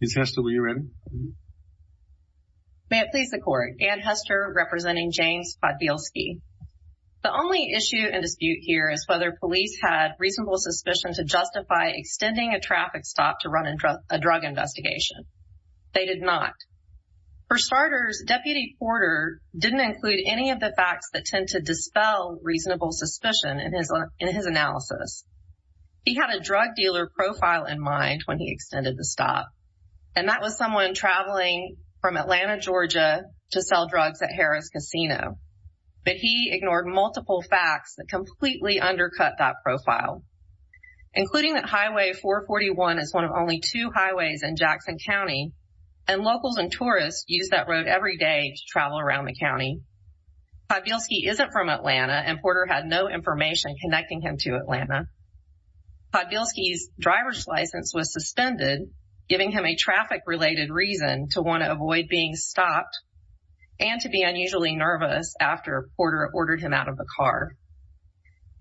The only issue and dispute here is whether police had reasonable suspicion to justify extending a traffic stop to run a drug investigation. They did not. For starters, Deputy Porter didn't include any of the facts that tend to dispel reasonable suspicion in his analysis. He had a drug dealer profile in mind when he extended the stop, and that was someone traveling from Atlanta, Georgia, to sell drugs at Harris Casino, but he ignored multiple facts that completely undercut that profile, including that Highway 441 is one of only two highways in Jackson County, and locals and tourists use that road every day to travel around the county. Podbielski isn't from Atlanta, and Porter had no information connecting him to Atlanta. Podbielski's driver's license was suspended, giving him a traffic-related reason to want to avoid being stopped and to be unusually nervous after Porter ordered him out of the car.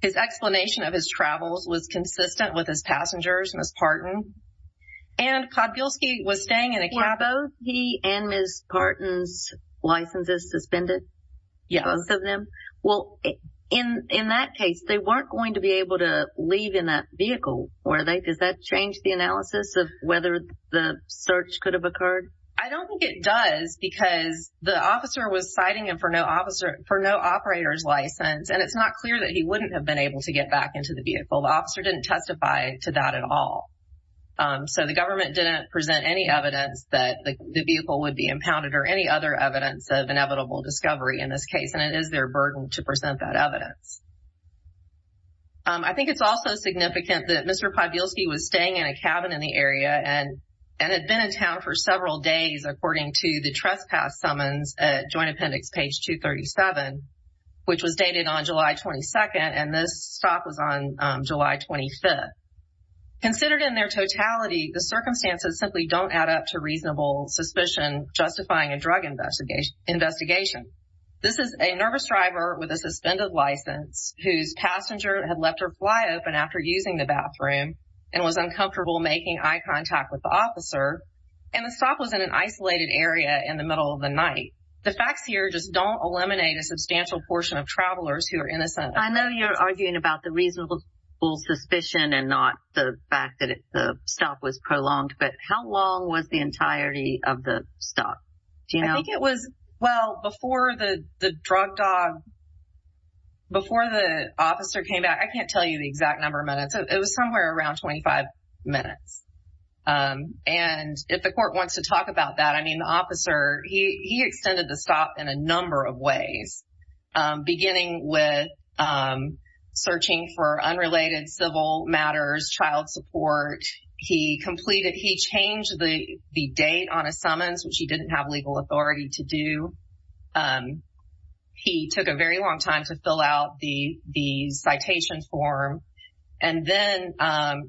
His explanation of his travels was consistent with his passengers, Ms. Parton, and Podbielski was staying in a cab. So, both he and Ms. Parton's licenses suspended? Yes. Both of them? Well, in that case, they weren't going to be able to leave in that vehicle, were they? Does that change the analysis of whether the search could have occurred? I don't think it does, because the officer was citing him for no operator's license, and it's not clear that he wouldn't have been able to get back into the vehicle. The officer didn't testify to that at all, so the government didn't present any evidence that the vehicle would be impounded or any other evidence of inevitable discovery in this case, and it is their burden to present that evidence. I think it's also significant that Mr. Podbielski was staying in a cabin in the area and had been in town for several days, according to the trespass summons at Joint Appendix page 237, which was dated on July 22nd, and this stop was on July 25th. Considered in their totality, the circumstances simply don't add up to reasonable suspicion justifying a drug investigation. This is a nervous driver with a suspended license whose passenger had left her fly open after using the bathroom and was uncomfortable making eye contact with the officer, and the stop was in an isolated area in the middle of the night. The facts here just don't eliminate a substantial portion of travelers who are innocent. I know you're arguing about the reasonable suspicion and not the fact that the stop was prolonged, but how long was the entirety of the stop? Do you know? I think it was, well, before the drug dog, before the officer came back, I can't tell you the exact number of minutes, it was somewhere around 25 minutes, and if the court wants to talk about that, I mean, the officer, he extended the stop in a number of ways, beginning with searching for unrelated civil matters, child support. He completed, he changed the date on a summons, which he didn't have legal authority to do. He took a very long time to fill out the citation form, and then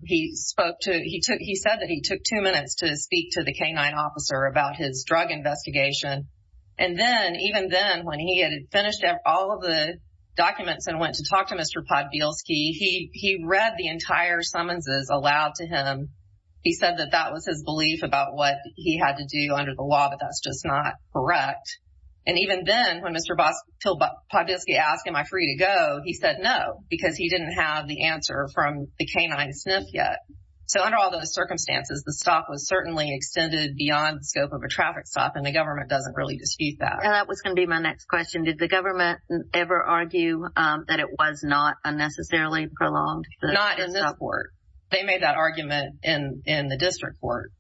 he spoke to, he took, he said that he took two minutes to speak to the K-9 officer about his drug investigation, and then, even then, when he had finished all of the documents and went to talk to Mr. Podbielski, he read the entire summonses aloud to him. He said that that was his belief about what he had to do under the law, but that's just not correct. And even then, when Mr. Podbielski asked him, am I free to go, he said no, because he didn't have the answer from the K-9 SNF yet. So under all those circumstances, the stop was certainly extended beyond the scope of a traffic stop, and the government doesn't really dispute that. And that was going to be my next question. Did the government ever argue that it was not unnecessarily prolonged? Not in this court. They made that argument in the district court,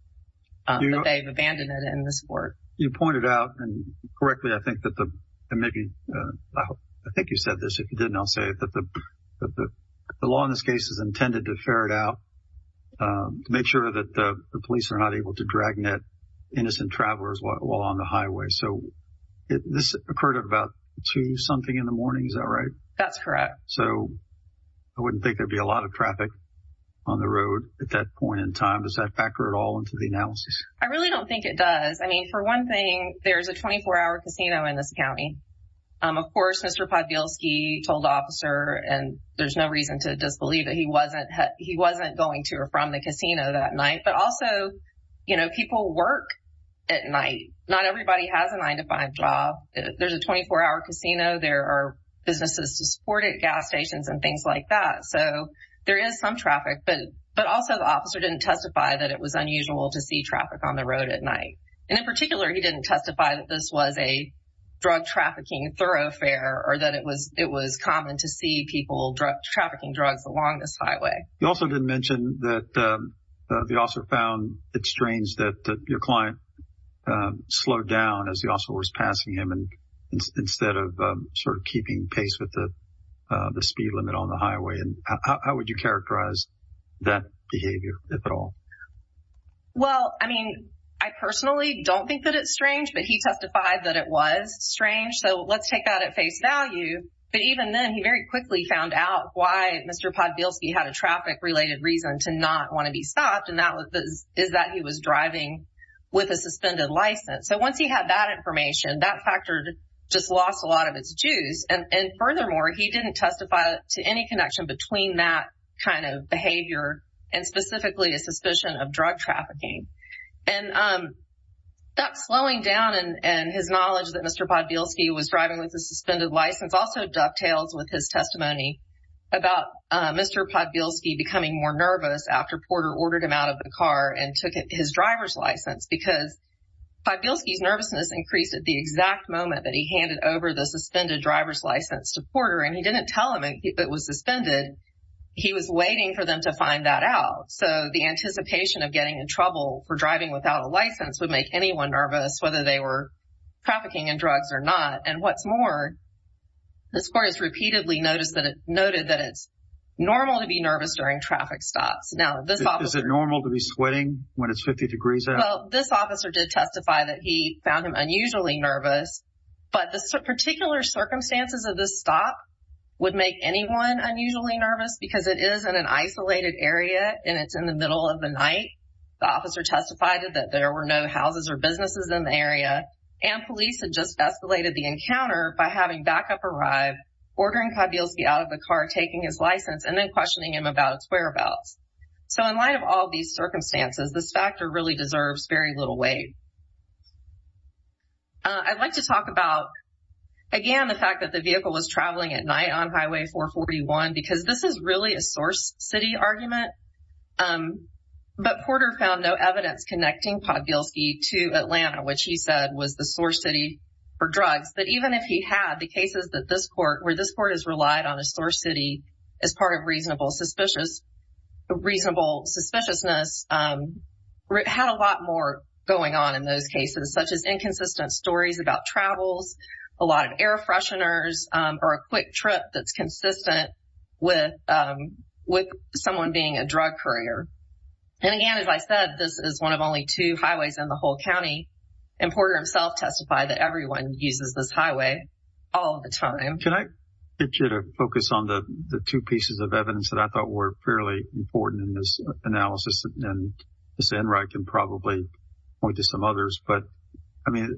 but they've abandoned it in this court. You pointed out, and correctly, I think that the, and maybe, I think you said this, if you didn't, I'll say it, that the law in this case is intended to ferret out, to make sure that the police are not able to dragnet innocent travelers while on the highway. So this occurred at about two-something in the morning, is that right? That's correct. So I wouldn't think there'd be a lot of traffic on the road at that point in time. Does that factor at all into the analysis? I really don't think it does. I mean, for one thing, there's a 24-hour casino in this county. Of course, Mr. Podbielski told the officer, and there's no reason to disbelieve that he wasn't going to or from the casino that night, but also, you know, people work at night. Not everybody has a nine-to-five job. There's a 24-hour casino. There are businesses to support it, gas stations and things like that. So there is some traffic, but also the officer didn't testify that it was unusual to see traffic on the road at night. And in particular, he didn't testify that this was a drug trafficking thoroughfare or that it was common to see people trafficking drugs along this highway. You also didn't mention that the officer found it strange that your client slowed down as the officer was passing him instead of sort of keeping pace with the speed limit on the highway. How would you characterize that behavior, if at all? Well, I mean, I personally don't think that it's strange, but he testified that it was strange. So let's take that at face value, but even then, he very quickly found out why Mr. Podbielski had a traffic-related reason to not want to be stopped, and that is that he was driving with a suspended license. So once he had that information, that factored just lost a lot of its juice, and furthermore, he didn't testify to any connection between that kind of behavior and specifically a suspicion of drug trafficking. And that slowing down and his knowledge that Mr. Podbielski was driving with a suspended license also dovetails with his testimony about Mr. Podbielski becoming more nervous after Porter ordered him out of the car and took his driver's license, because Podbielski's nervousness increased at the exact moment that he handed over the suspended driver's license to Porter, and he didn't tell him it was suspended. He was waiting for them to find that out. So the anticipation of getting in trouble for driving without a license would make anyone nervous, whether they were trafficking in drugs or not. And what's more, this court has repeatedly noted that it's normal to be nervous during traffic stops. Now, this officer- Is it normal to be sweating when it's 50 degrees out? Well, this officer did testify that he found him unusually nervous, but the particular circumstances of this stop would make anyone unusually nervous, because it is in an isolated area, and it's in the middle of the night, the officer testified that there were no houses or businesses in the area, and police had just escalated the encounter by having backup arrive, ordering Podbielski out of the car, taking his license, and then questioning him about its whereabouts. So in light of all these circumstances, this factor really deserves very little weight. I'd like to talk about, again, the fact that the vehicle was traveling at night on But Porter found no evidence connecting Podbielski to Atlanta, which he said was the source city for drugs. But even if he had, the cases that this court, where this court has relied on a source city as part of reasonable suspiciousness, had a lot more going on in those cases, such as inconsistent stories about travels, a lot of air fresheners, or a quick trip that's a drug courier. And again, as I said, this is one of only two highways in the whole county, and Porter himself testified that everyone uses this highway all the time. Can I get you to focus on the two pieces of evidence that I thought were fairly important in this analysis, and then Ms. Enright can probably point to some others, but, I mean,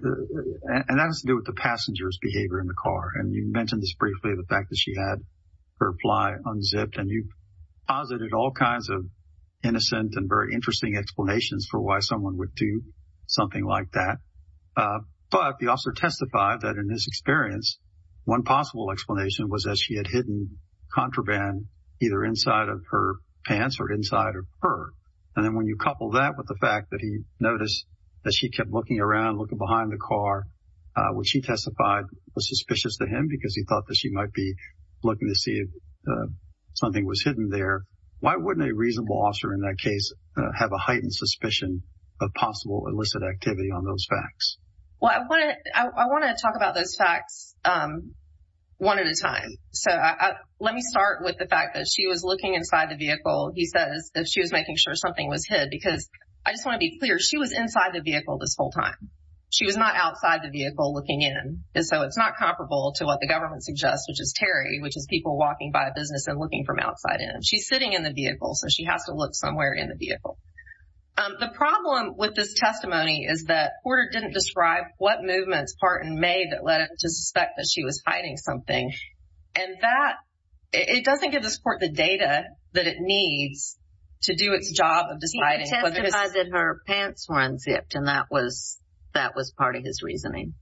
and that has to do with the passenger's behavior in the car. And you mentioned this briefly, the fact that she had her fly unzipped, and you posited all kinds of innocent and very interesting explanations for why someone would do something like that. But the officer testified that in his experience, one possible explanation was that she had hidden contraband either inside of her pants or inside of her. And then when you couple that with the fact that he noticed that she kept looking around, looking behind the car, which he testified was suspicious to him because he thought that she might be looking to see if something was hidden there, why wouldn't a reasonable officer in that case have a heightened suspicion of possible illicit activity on those facts? Well, I want to talk about those facts one at a time. So let me start with the fact that she was looking inside the vehicle, he says, as she was making sure something was hid, because I just want to be clear, she was inside the vehicle this whole time. She was not outside the vehicle looking in. So it's not comparable to what the government suggests, which is Terry, which is people walking by a business and looking from outside in. She's sitting in the vehicle, so she has to look somewhere in the vehicle. The problem with this testimony is that Porter didn't describe what movements Parton made that led him to suspect that she was hiding something, and that, it doesn't give this court the data that it needs to do its job of deciding whether it's... He testified that her pants were unzipped, and that was part of his reasoning.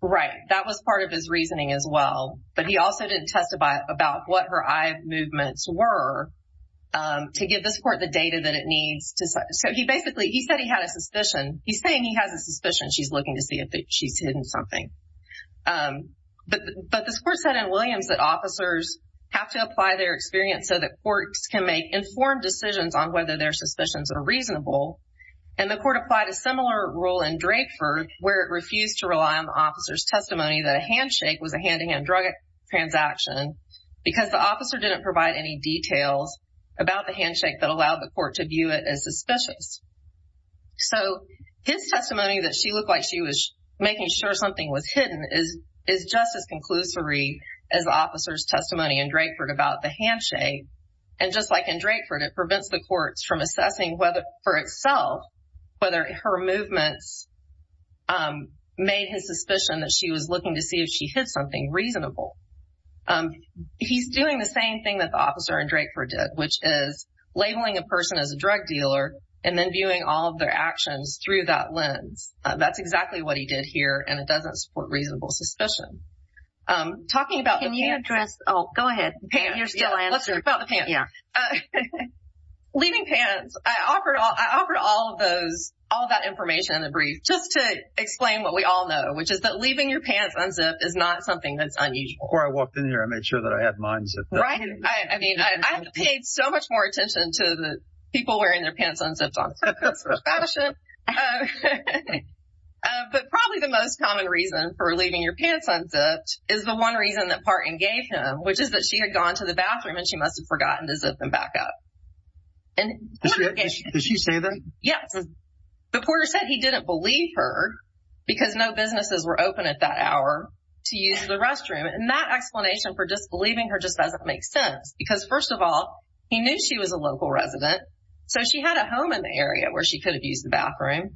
Right. That was part of his reasoning as well, but he also didn't testify about what her eye movements were to give this court the data that it needs to... So he basically, he said he had a suspicion. He's saying he has a suspicion. She's looking to see if she's hidden something, but this court said in Williams that officers have to apply their experience so that courts can make informed decisions on whether their suspicions are reasonable, and the court applied a similar rule in Drakeford where it refused to rely on the officer's testimony that a handshake was a hand-in-hand drug transaction because the officer didn't provide any details about the handshake that allowed the court to view it as suspicious. So this testimony that she looked like she was making sure something was hidden is just as conclusory as the officer's testimony in Drakeford about the handshake, and just like in Drakeford, it prevents the courts from assessing whether, for itself, whether her movements made his suspicion that she was looking to see if she hid something reasonable. He's doing the same thing that the officer in Drakeford did, which is labeling a person as a drug dealer and then viewing all of their actions through that lens. That's exactly what he did here, and it doesn't support reasonable suspicion. Talking about the pants. Can you address... Oh, go ahead. You're still answering. Let's talk about the pants. Yeah. Leaving pants. I offered all of those, all that information in the brief just to explain what we all know, which is that leaving your pants unzipped is not something that's unusual. Before I walked in here, I made sure that I had mine zipped up. Right? I mean, I paid so much more attention to the people wearing their pants unzipped on social media. That's fashion. But probably the most common reason for leaving your pants unzipped is the one reason that Parton gave him, which is that she had gone to the bathroom and she must have forgotten to zip them back up. Is she? Did she say that? Yes. The porter said he didn't believe her because no businesses were open at that hour to use the restroom. And that explanation for just believing her just doesn't make sense, because first of all, he knew she was a local resident, so she had a home in the area where she could have used the bathroom.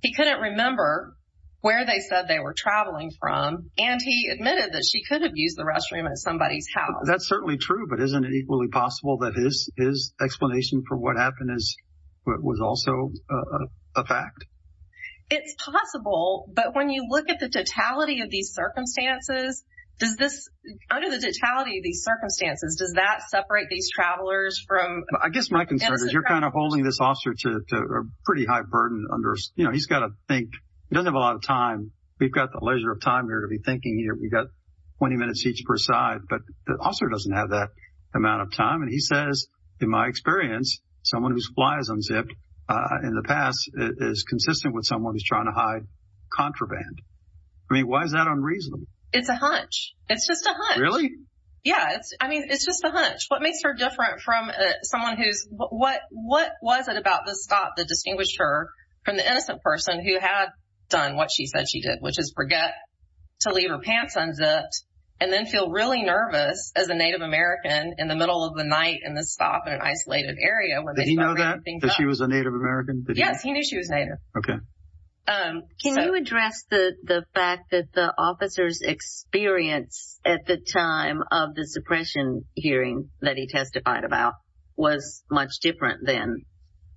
He couldn't remember where they said they were traveling from, and he admitted that she could have used the restroom at somebody's house. That's certainly true, but isn't it equally possible that his explanation for what happened was also a fact? It's possible, but when you look at the totality of these circumstances, does this, under the totality of these circumstances, does that separate these travelers from... I guess my concern is you're kind of holding this officer to a pretty high burden under, you know, he's got to think, he doesn't have a lot of time. We've got the leisure of time here to be thinking, we've got 20 minutes each per side, but the officer doesn't have that amount of time. And he says, in my experience, someone who's fly is unzipped in the past is consistent with someone who's trying to hide contraband. I mean, why is that unreasonable? It's a hunch. It's just a hunch. Really? Yeah, I mean, it's just a hunch. What makes her different from someone who's... What was it about this stop that distinguished her from the innocent person who had done what she said she did, which is forget to leave her pants unzipped and then feel really Native American in the middle of the night in the stop in an isolated area when they start bringing things up? Did he know that? That she was a Native American? Yes, he knew she was Native. Okay. Can you address the fact that the officer's experience at the time of the suppression hearing that he testified about was much different than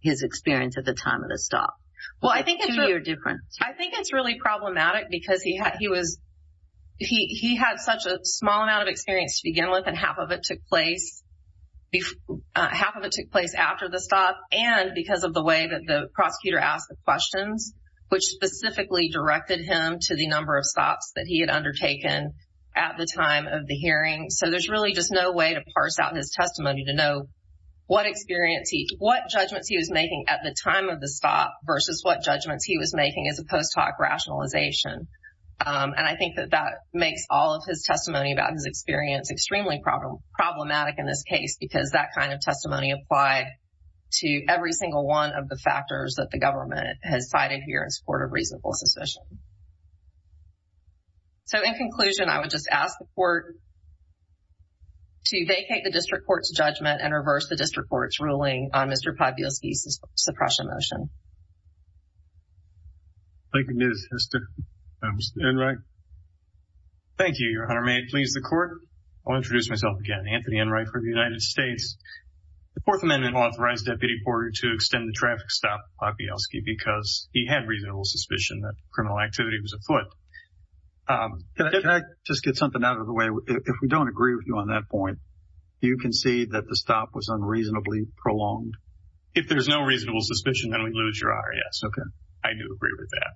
his experience at the time of the stop? Well, I think it's... Two year difference. I think it's really problematic because he had such a small amount of experience to begin with and half of it took place after the stop and because of the way that the prosecutor asked the questions, which specifically directed him to the number of stops that he had undertaken at the time of the hearing. So there's really just no way to parse out his testimony to know what experience he... What judgments he was making at the time of the stop versus what judgments he was making as a post hoc rationalization. And I think that that makes all of his testimony about his experience extremely problematic in this case because that kind of testimony applied to every single one of the factors that the government has cited here in support of reasonable suspicion. So in conclusion, I would just ask the court to vacate the district court's judgment and reverse the district court's ruling on Mr. Podbielski's suppression motion. Thank you, Ms. Hester. Mr. Enright. Thank you, Your Honor. May it please the court, I'll introduce myself again, Anthony Enright for the United States. The Fourth Amendment authorized Deputy Porter to extend the traffic stop Podbielski because he had reasonable suspicion that criminal activity was afoot. Can I just get something out of the way? If we don't agree with you on that point, do you concede that the stop was unreasonably prolonged? If there's no reasonable suspicion, then we lose Your Honor. Yes. Okay. I do agree with that.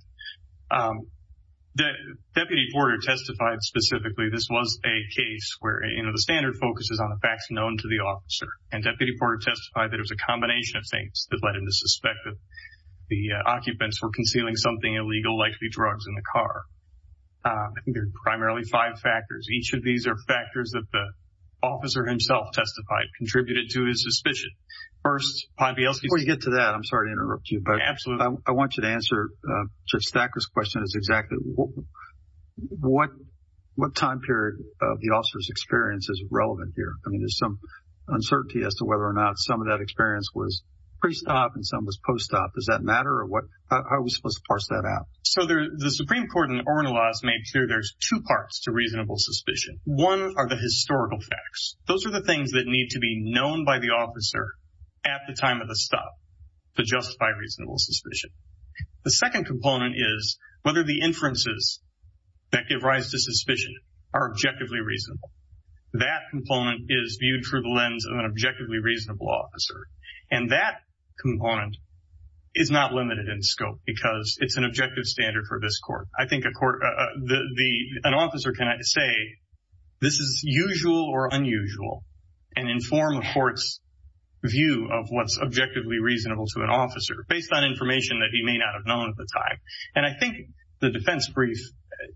Deputy Porter testified specifically this was a case where, you know, the standard focus is on the facts known to the officer. And Deputy Porter testified that it was a combination of things that led him to suspect that the occupants were concealing something illegal, likely drugs, in the car. I think there are primarily five factors. Each of these are factors that the officer himself testified contributed to his suspicion. First, Podbielski… Before you get to that, I'm sorry to interrupt you, but… Absolutely. I want you to answer Judge Thacker's question is exactly what time period of the officer's experience is relevant here. I mean, there's some uncertainty as to whether or not some of that experience was pre-stop and some was post-stop. Does that matter? Or what… How are we supposed to parse that out? So, there… The Supreme Court in Ornello's made sure there's two parts to reasonable suspicion. One are the historical facts. Those are the things that need to be known by the officer at the time of the stop to justify reasonable suspicion. The second component is whether the inferences that give rise to suspicion are objectively reasonable. That component is viewed through the lens of an objectively reasonable officer. And that component is not limited in scope because it's an objective standard for this court. I think a court… An officer cannot say this is usual or unusual and inform a court's view of what's objectively reasonable to an officer based on information that he may not have known at the time. And I think the defense brief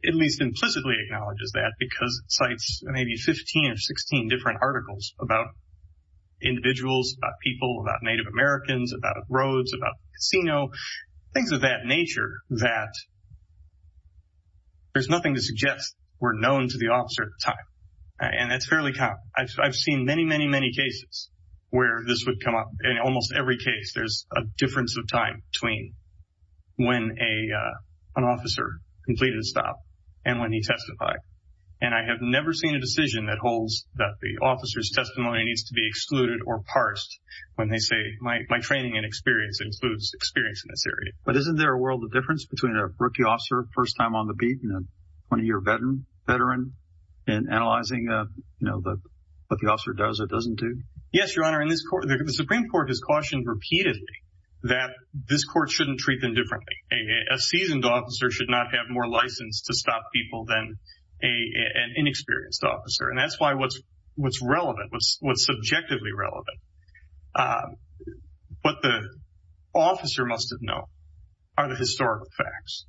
at least implicitly acknowledges that because it cites maybe 15 or 16 different articles about individuals, about people, about Native Americans, about casino, things of that nature that there's nothing to suggest were known to the officer at the time. And that's fairly common. I've seen many, many, many cases where this would come up. In almost every case, there's a difference of time between when an officer completed a stop and when he testified. And I have never seen a decision that holds that the officer's testimony needs to be But isn't there a world of difference between a rookie officer first time on the beat and a 20-year veteran and analyzing what the officer does or doesn't do? Yes, Your Honor. The Supreme Court has cautioned repeatedly that this court shouldn't treat them differently. A seasoned officer should not have more license to stop people than an inexperienced officer. And that's why what's relevant, what's subjectively relevant. What the officer must have known are the historical facts.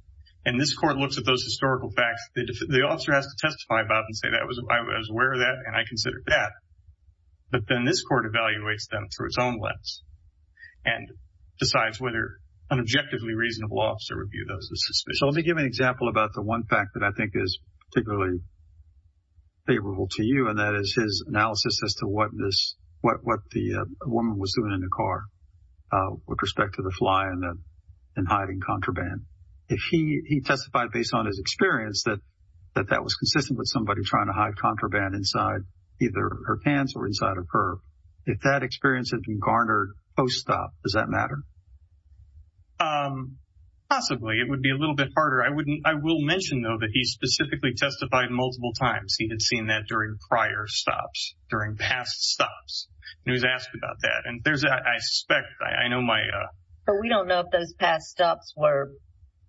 And this court looks at those historical facts. The officer has to testify about and say, I was aware of that and I considered that. But then this court evaluates them through its own lens and decides whether an objectively reasonable officer would view those as suspicious. So, let me give an example about the one fact that I think is particularly favorable to you and that is his analysis as to what the woman was doing in the car with respect to the fly and hiding contraband. If he testified based on his experience that that was consistent with somebody trying to hide contraband inside either her pants or inside of her, if that experience had been garnered post-stop, does that matter? Possibly. It would be a little bit harder. I will mention, though, that he specifically testified multiple times. He had seen that during prior stops, during past stops. And he was asked about that. And there's, I suspect, I know my... But we don't know if those past stops were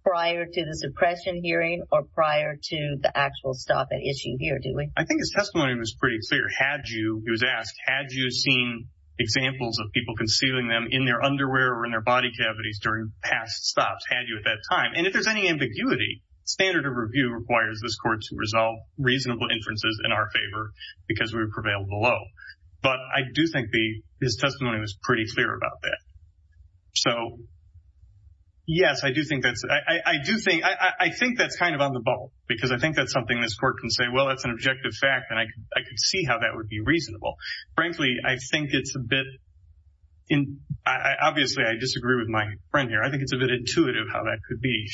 prior to the suppression hearing or prior to the actual stop at issue here, do we? I think his testimony was pretty clear. Had you, he was asked, had you seen examples of people concealing them in their underwear or in their body cavities during past stops? Had you at that time? And if there's any ambiguity, standard of review requires this court to resolve reasonable inferences in our favor because we prevail below. But I do think his testimony was pretty clear about that. So, yes, I do think that's... I do think... I think that's kind of on the ball because I think that's something this court can say, well, that's an objective fact, and I could see how that would be reasonable. Frankly, I think it's a bit... Obviously, I disagree with my friend here. I think it's a bit intuitive how that could be.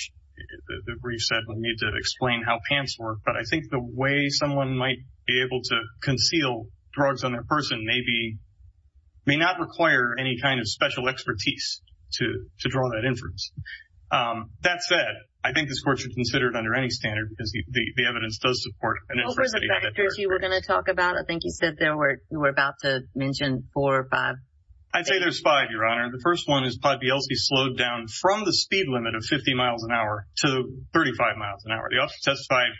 The brief said we need to explain how pants work. But I think the way someone might be able to conceal drugs on that person may be... may not require any kind of special expertise to draw that inference. That said, I think this court should consider it under any standard because the evidence does support an inference that he had that... What were the factors you were going to talk about? I think you said there were... You were about to mention four or five. I'd say there's five, Your Honor. The first one is Pod BLC slowed down from the speed limit of 50 miles an hour to 35 miles an hour. The officer testified...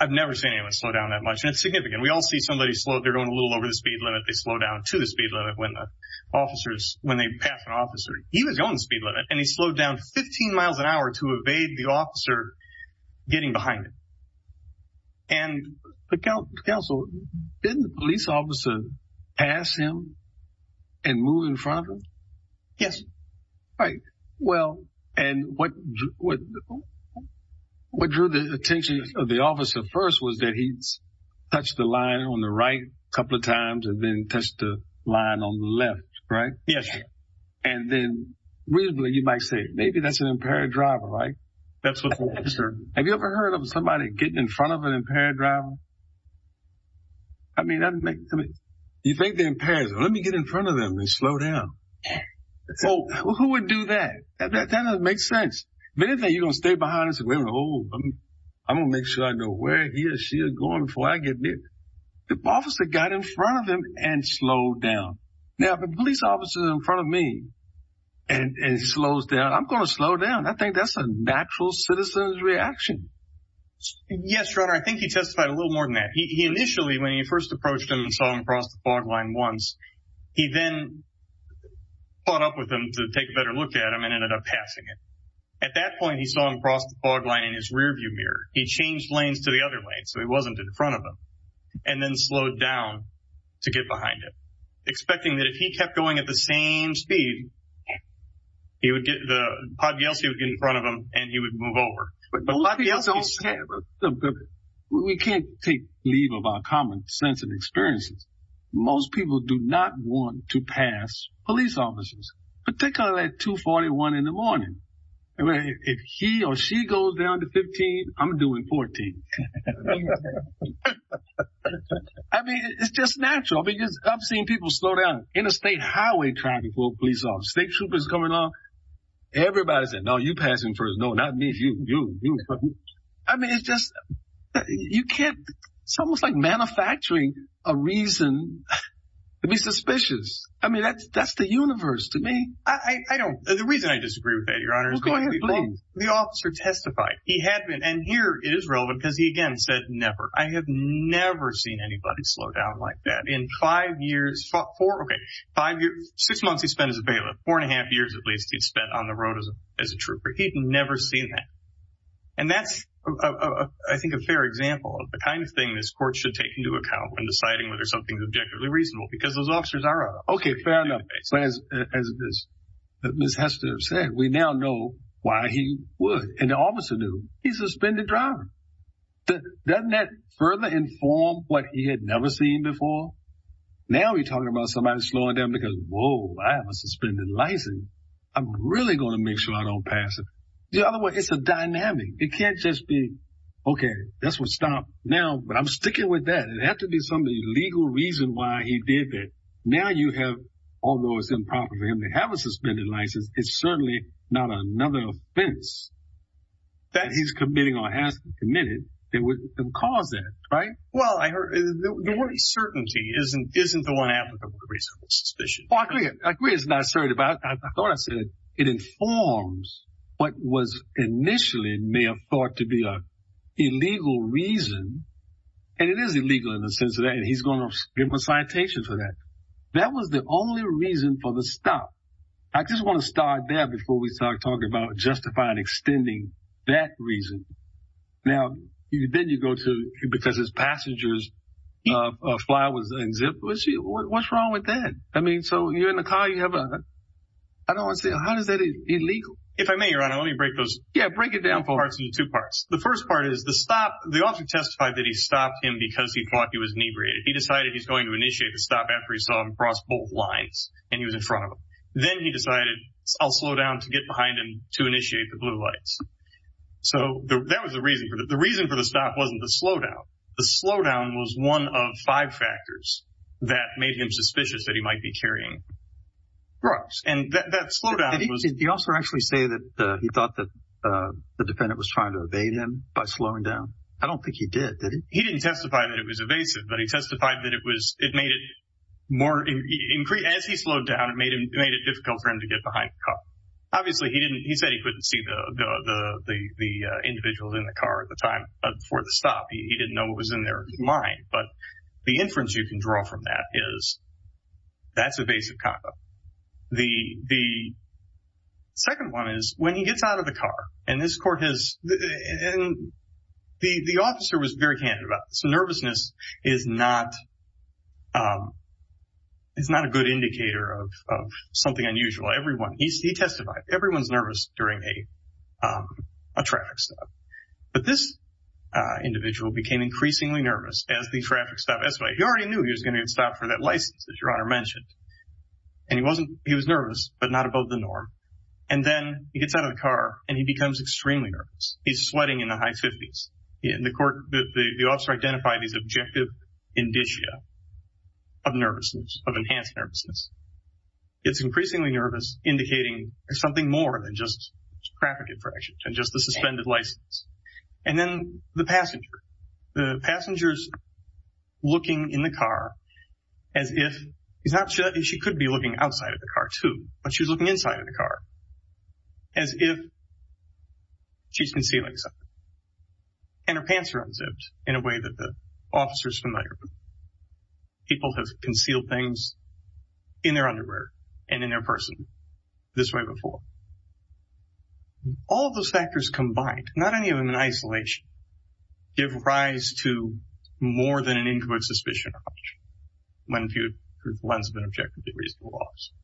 I've never seen anyone slow down that much, and it's significant. We all see somebody slow... They're going a little over the speed limit. They slow down to the speed limit when the officers... When they pass an officer. He was going the speed limit, and he slowed down 15 miles an hour to evade the officer getting behind him. And the counsel... Didn't the police officer pass him and move in front of him? Yes. Right. Well, and what drew the attention of the officer first was that he touched the line on the right a couple of times and then touched the line on the left, right? Yes. And then reasonably, you might say, maybe that's an impaired driver, right? That's what the officer... Have you ever heard of somebody getting in front of an impaired driver? You think they're impaired. Let me get in front of them and slow down. Well, who would do that? That doesn't make sense. If anything, you're going to stay behind and say, I'm going to make sure I know where he or she is going before I get near them. The officer got in front of him and slowed down. Now, if a police officer is in front of me and slows down, I'm going to slow down. I think that's a natural citizen's reaction. Yes, Your Honor. I think he testified a little more than that. Initially, when he first approached him and saw him across the fog line once, he then caught up with him to take a better look at him and ended up passing him. At that point, he saw him across the fog line in his rearview mirror. He changed lanes to the other lane so he wasn't in front of him and then slowed down to get behind him, expecting that if he kept going at the same speed, he would get the pod guilty in front of him and he would move over. We can't take leave of our common sense and experiences. Most people do not want to pass police officers, particularly at 241 in the morning. If he or she goes down to 15, I'm doing 14. I mean, it's just natural because I've seen people slow down. Interstate highway traffic pulled police off. State troopers coming off. Everybody said, no, you pass him first. No, not me, you, you, you. I mean, it's just you can't. It's almost like manufacturing a reason to be suspicious. I mean, that's the universe to me. I don't. The reason I disagree with that, Your Honor, is because the officer testified. He had been, and here it is relevant because he, again, said never. I have never seen anybody slow down like that. In five years, okay, six months he spent as a bailiff, four and a half years at least he'd spent on the road as a trooper. He'd never seen that. And that's, I think, a fair example of the kind of thing this court should take into account when deciding whether something is objectively reasonable because those officers are. Okay, fair enough. As Ms. Hester said, we now know why he would. And the officer knew. He's a suspended driver. Doesn't that further inform what he had never seen before? Now we're talking about somebody slowing down because, whoa, I have a suspended license. I'm really going to make sure I don't pass it. The other way, it's a dynamic. It can't just be, okay, that's what stopped. Now, but I'm sticking with that. It'd have to be some legal reason why he did that. Now you have, although it's improper for him to have a suspended license, it's certainly not another offense that he's committing or has committed that would cause that, right? Well, the word certainty isn't the one applicable to reasonable suspicion. Well, I agree. I agree it's not assertive. I thought I said it informs what was initially may have thought to be an illegal reason. And it is illegal in the sense of that. He's going to give him a citation for that. That was the only reason for the stop. I just want to start there before we start talking about justify and extending that reason. Now, then you go to because his passenger's fly was unzipped. What's wrong with that? I mean, so you're in the car. You have a – I don't want to say – how is that illegal? If I may, Your Honor, let me break those parts into two parts. The first part is the stop. The officer testified that he stopped him because he thought he was inebriated. He decided he's going to initiate the stop after he saw him cross both lines and he was in front of him. Then he decided, I'll slow down to get behind him to initiate the blue lights. So that was the reason. The reason for the stop wasn't the slowdown. The slowdown was one of five factors that made him suspicious that he might be carrying drugs. And that slowdown was – Did the officer actually say that he thought that the defendant was trying to evade him by slowing down? I don't think he did, did he? He didn't testify that it was evasive, but he testified that it was – it made it more – as he slowed down, it made it difficult for him to get behind the car. Obviously, he didn't – he said he couldn't see the individual in the car at the time before the stop. He didn't know what was in their mind. But the inference you can draw from that is that's evasive conduct. The second one is when he gets out of the car and this court has – and the officer was very candid about this. Nervousness is not a good indicator of something unusual. Everyone – he testified. Everyone's nervous during a traffic stop. But this individual became increasingly nervous as the traffic stopped. That's right. He already knew he was going to get stopped for that license that Your Honor mentioned. And he wasn't – he was nervous, but not above the norm. And then he gets out of the car and he becomes extremely nervous. He's sweating in the high 50s. And the court – the officer identified these objective indicia of nervousness, of enhanced nervousness. It's increasingly nervous, indicating something more than just traffic infraction and just the suspended license. And then the passenger. The passenger's looking in the car as if – he's not – she could be looking outside of the car too, but she's looking inside of the car as if she's concealing something. And her pants are unzipped in a way that the officer's familiar with. People have concealed things in their underwear and in their person this way before. All of those factors combined, not any of them in isolation, give rise to more than an incoherent suspicion or option when viewed through the lens of an objectively reasonable officer.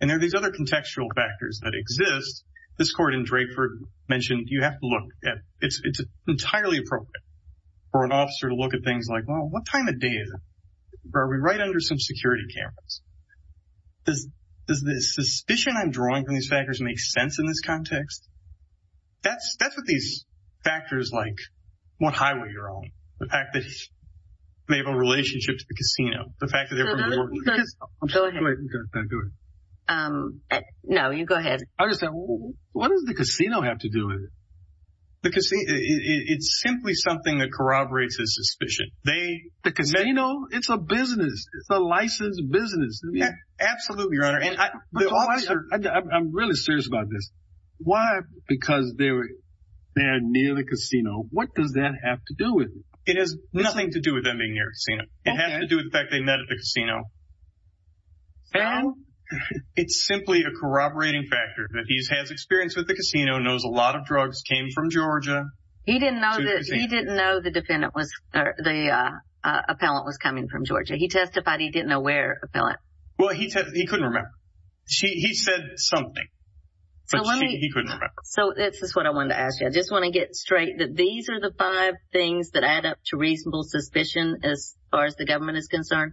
And there are these other contextual factors that exist. This court in Drakeford mentioned you have to look at – it's entirely appropriate for an officer to look at things like, well, what time of day is it? Are we right under some security cameras? Does the suspicion I'm drawing from these factors make sense in this context? That's what these factors like. What highway you're on, the fact that they have a relationship to the casino, the fact that they're from New Orleans. No, you go ahead. What does the casino have to do with it? It's simply something that corroborates his suspicion. The casino? It's a business. It's a licensed business. Absolutely, Your Honor. I'm really serious about this. Why? Because they're near the casino. What does that have to do with it? It has nothing to do with them being near the casino. It has to do with the fact they met at the casino. So? It's simply a corroborating factor that he has experience with the casino, knows a lot of drugs, came from Georgia. He didn't know the defendant was – the appellant was coming from Georgia. He testified he didn't know where, the appellant. Well, he couldn't remember. He said something, but he couldn't remember. So this is what I wanted to ask you. I just want to get straight that these are the five things that add up to reasonable suspicion as far as the government is concerned.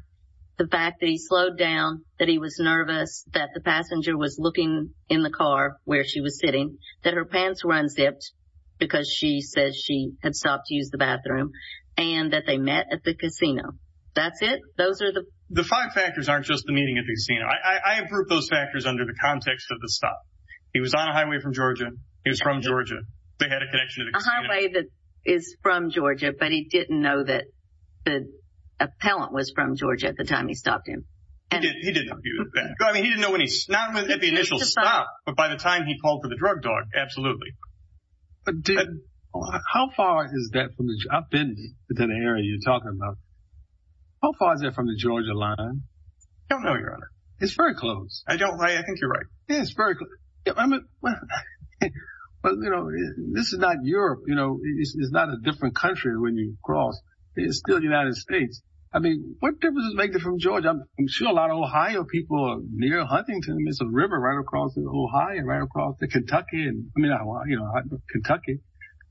The fact that he slowed down, that he was nervous, that the passenger was looking in the car where she was sitting, that her pants were unzipped because she says she had stopped to use the bathroom, and that they met at the casino. That's it? Those are the – Those factors aren't just the meeting at the casino. I have grouped those factors under the context of the stop. He was on a highway from Georgia. He was from Georgia. They had a connection at the casino. A highway that is from Georgia, but he didn't know that the appellant was from Georgia at the time he stopped him. He didn't know he was there. I mean, he didn't know when he – not at the initial stop, but by the time he called for the drug dog, absolutely. How far is that from the – I've been to that area you're talking about. How far is that from the Georgia line? I don't know, Your Honor. It's very close. I don't – I think you're right. Yeah, it's very close. But, you know, this is not Europe. You know, it's not a different country when you cross. It's still the United States. I mean, what difference does it make from Georgia? I'm sure a lot of Ohio people are near Huntington. There's a river right across from Ohio, right across from Kentucky. I mean, you know, Kentucky.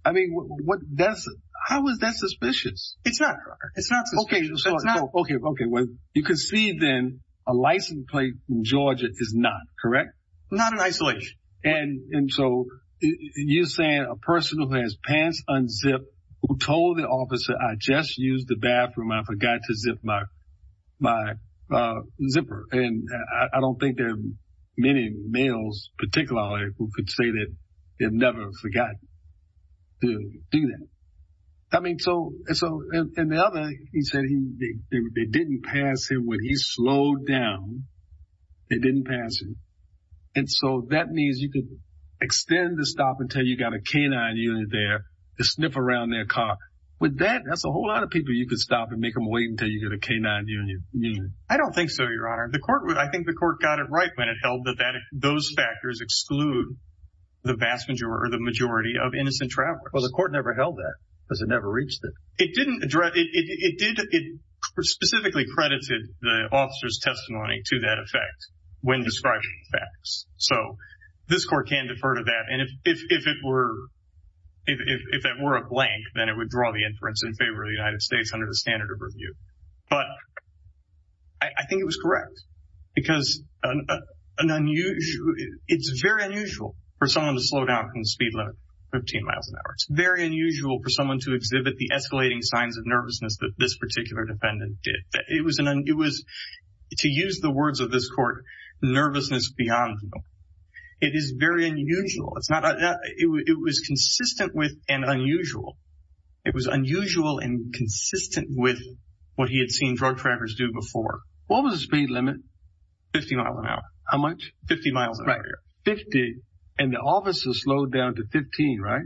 I mean, what – how is that suspicious? It's not suspicious. Okay, well, you can see then a license plate in Georgia is not, correct? Not in isolation. And so you're saying a person who has pants unzipped who told the officer, I just used the bathroom, I forgot to zip my zipper. And I don't think there are many males particularly who could say that they've never forgotten to do that. I mean, so – and the other, he said they didn't pass him when he slowed down. They didn't pass him. And so that means you could extend the stop until you got a K-9 unit there to sniff around their car. With that, that's a whole lot of people you could stop and make them wait until you get a K-9 unit. I don't think so, Your Honor. I think the court got it right when it held that those factors exclude the vast majority or the majority of innocent travelers. Well, the court never held that because it never reached it. It didn't address – it specifically credited the officer's testimony to that effect when describing the facts. So this court can defer to that. And if it were a blank, then it would draw the inference in favor of the United States under the standard of review. But I think it was correct because it's very unusual for someone to slow down and speed limit 15 miles an hour. It's very unusual for someone to exhibit the escalating signs of nervousness that this particular defendant did. It was, to use the words of this court, nervousness beyond them. It is very unusual. It was consistent with and unusual. It was unusual and consistent with what he had seen drug traffickers do before. What was the speed limit? Fifty miles an hour. How much? Fifty miles an hour. Fifty. And the officer slowed down to 15, right?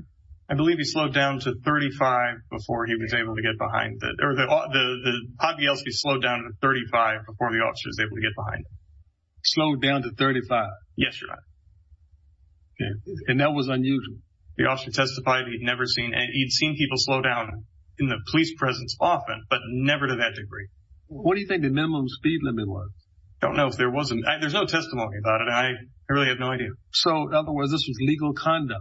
I believe he slowed down to 35 before he was able to get behind – or the obvious, he slowed down to 35 before the officer was able to get behind him. Slowed down to 35. Yes, Your Honor. And that was unusual. The officer testified he'd never seen – he'd seen people slow down in the police presence often, but never to that degree. What do you think the minimum speed limit was? I don't know if there was – there's no testimony about it. I really have no idea. So, in other words, this was legal conduct.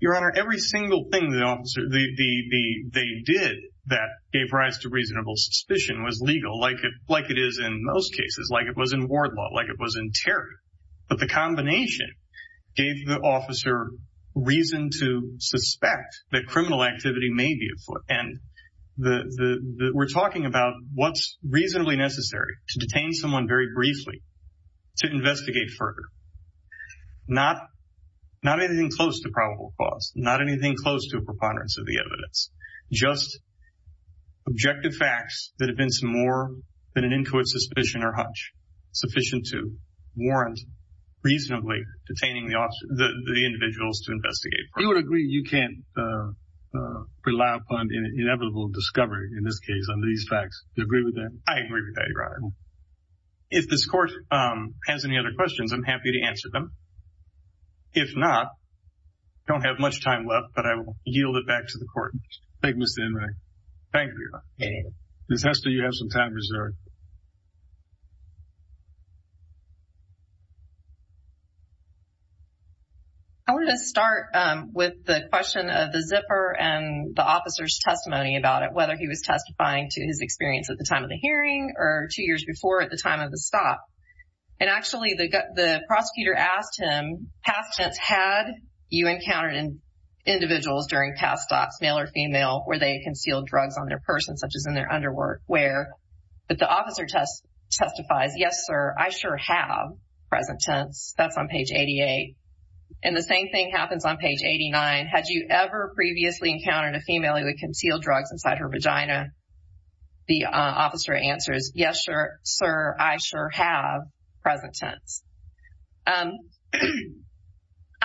Your Honor, every single thing the officer – they did that gave rise to reasonable suspicion was legal, like it is in most cases, like it was in ward law, like it was in terror. But the combination gave the officer reason to suspect that criminal activity may be afoot. And we're talking about what's reasonably necessary to detain someone very briefly, to investigate further, not anything close to probable cause, not anything close to a preponderance of the evidence, just objective facts that have been some more than an incoherent suspicion or hunch, sufficient to warrant reasonably detaining the individuals to investigate further. You would agree you can't rely upon inevitable discovery in this case under these facts. Do you agree with that? I agree with that, Your Honor. If this Court has any other questions, I'm happy to answer them. If not, I don't have much time left, but I will yield it back to the Court. Thank you, Mr. Enright. Thank you, Your Honor. Ms. Hester, you have some time reserved. I wanted to start with the question of the zipper and the officer's testimony about it, who was testifying to his experience at the time of the hearing or two years before at the time of the stop. And actually, the prosecutor asked him, past tense, had you encountered individuals during past stops, male or female, where they concealed drugs on their person, such as in their underwear? But the officer testifies, yes, sir, I sure have, present tense. That's on page 88. And the same thing happens on page 89. Had you ever previously encountered a female who had concealed drugs inside her vagina? The officer answers, yes, sir, I sure have, present tense. I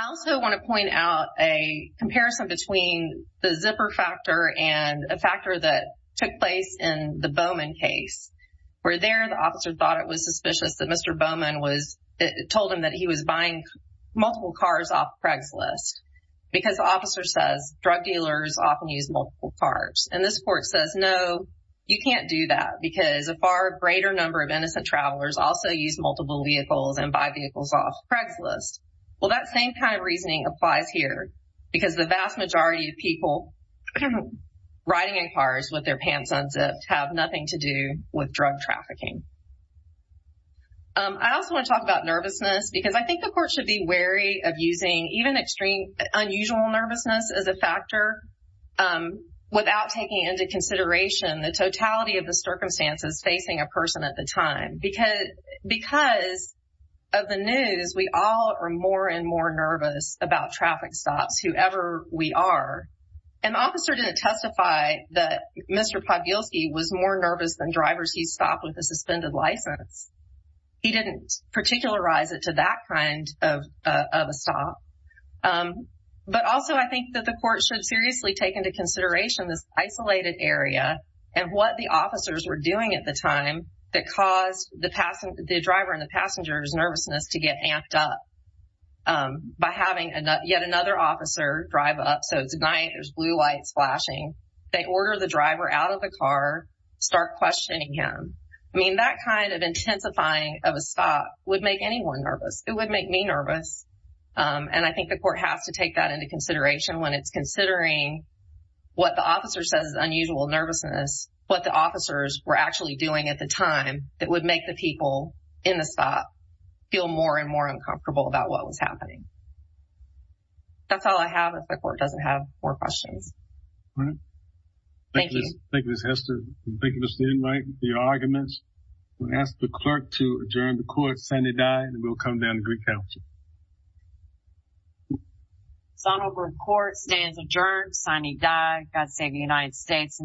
also want to point out a comparison between the zipper factor and a factor that took place in the Bowman case. Where there, the officer thought it was suspicious that Mr. Bowman was told him that he was buying multiple cars off Craigslist. Because the officer says drug dealers often use multiple cars. And this court says, no, you can't do that. Because a far greater number of innocent travelers also use multiple vehicles and buy vehicles off Craigslist. Well, that same kind of reasoning applies here. Because the vast majority of people riding in cars with their pants unzipped have nothing to do with drug trafficking. I also want to talk about nervousness. Because I think the court should be wary of using even extreme unusual nervousness as a factor. Without taking into consideration the totality of the circumstances facing a person at the time. Because of the news, we all are more and more nervous about traffic stops, whoever we are. And the officer didn't testify that Mr. Pawielski was more nervous than drivers he stopped with a suspended license. He didn't particularize it to that kind of a stop. But also, I think that the court should seriously take into consideration this isolated area. And what the officers were doing at the time that caused the driver and the passenger's nervousness to get amped up. By having yet another officer drive up, so it's night, there's blue lights flashing. They order the driver out of the car, start questioning him. I mean, that kind of intensifying of a stop would make anyone nervous. It would make me nervous. And I think the court has to take that into consideration when it's considering what the officer says is unusual nervousness. What the officers were actually doing at the time that would make the people in the stop feel more and more uncomfortable about what was happening. That's all I have. If the court doesn't have more questions. Thank you. Thank you, Ms. Hester. Thank you, Mr. Inmate, for your arguments. I'm going to ask the clerk to adjourn the court. Sine die. And we'll come down to Greek Council. Sonnenberg Court stands adjourned. Sine die. God save the United States.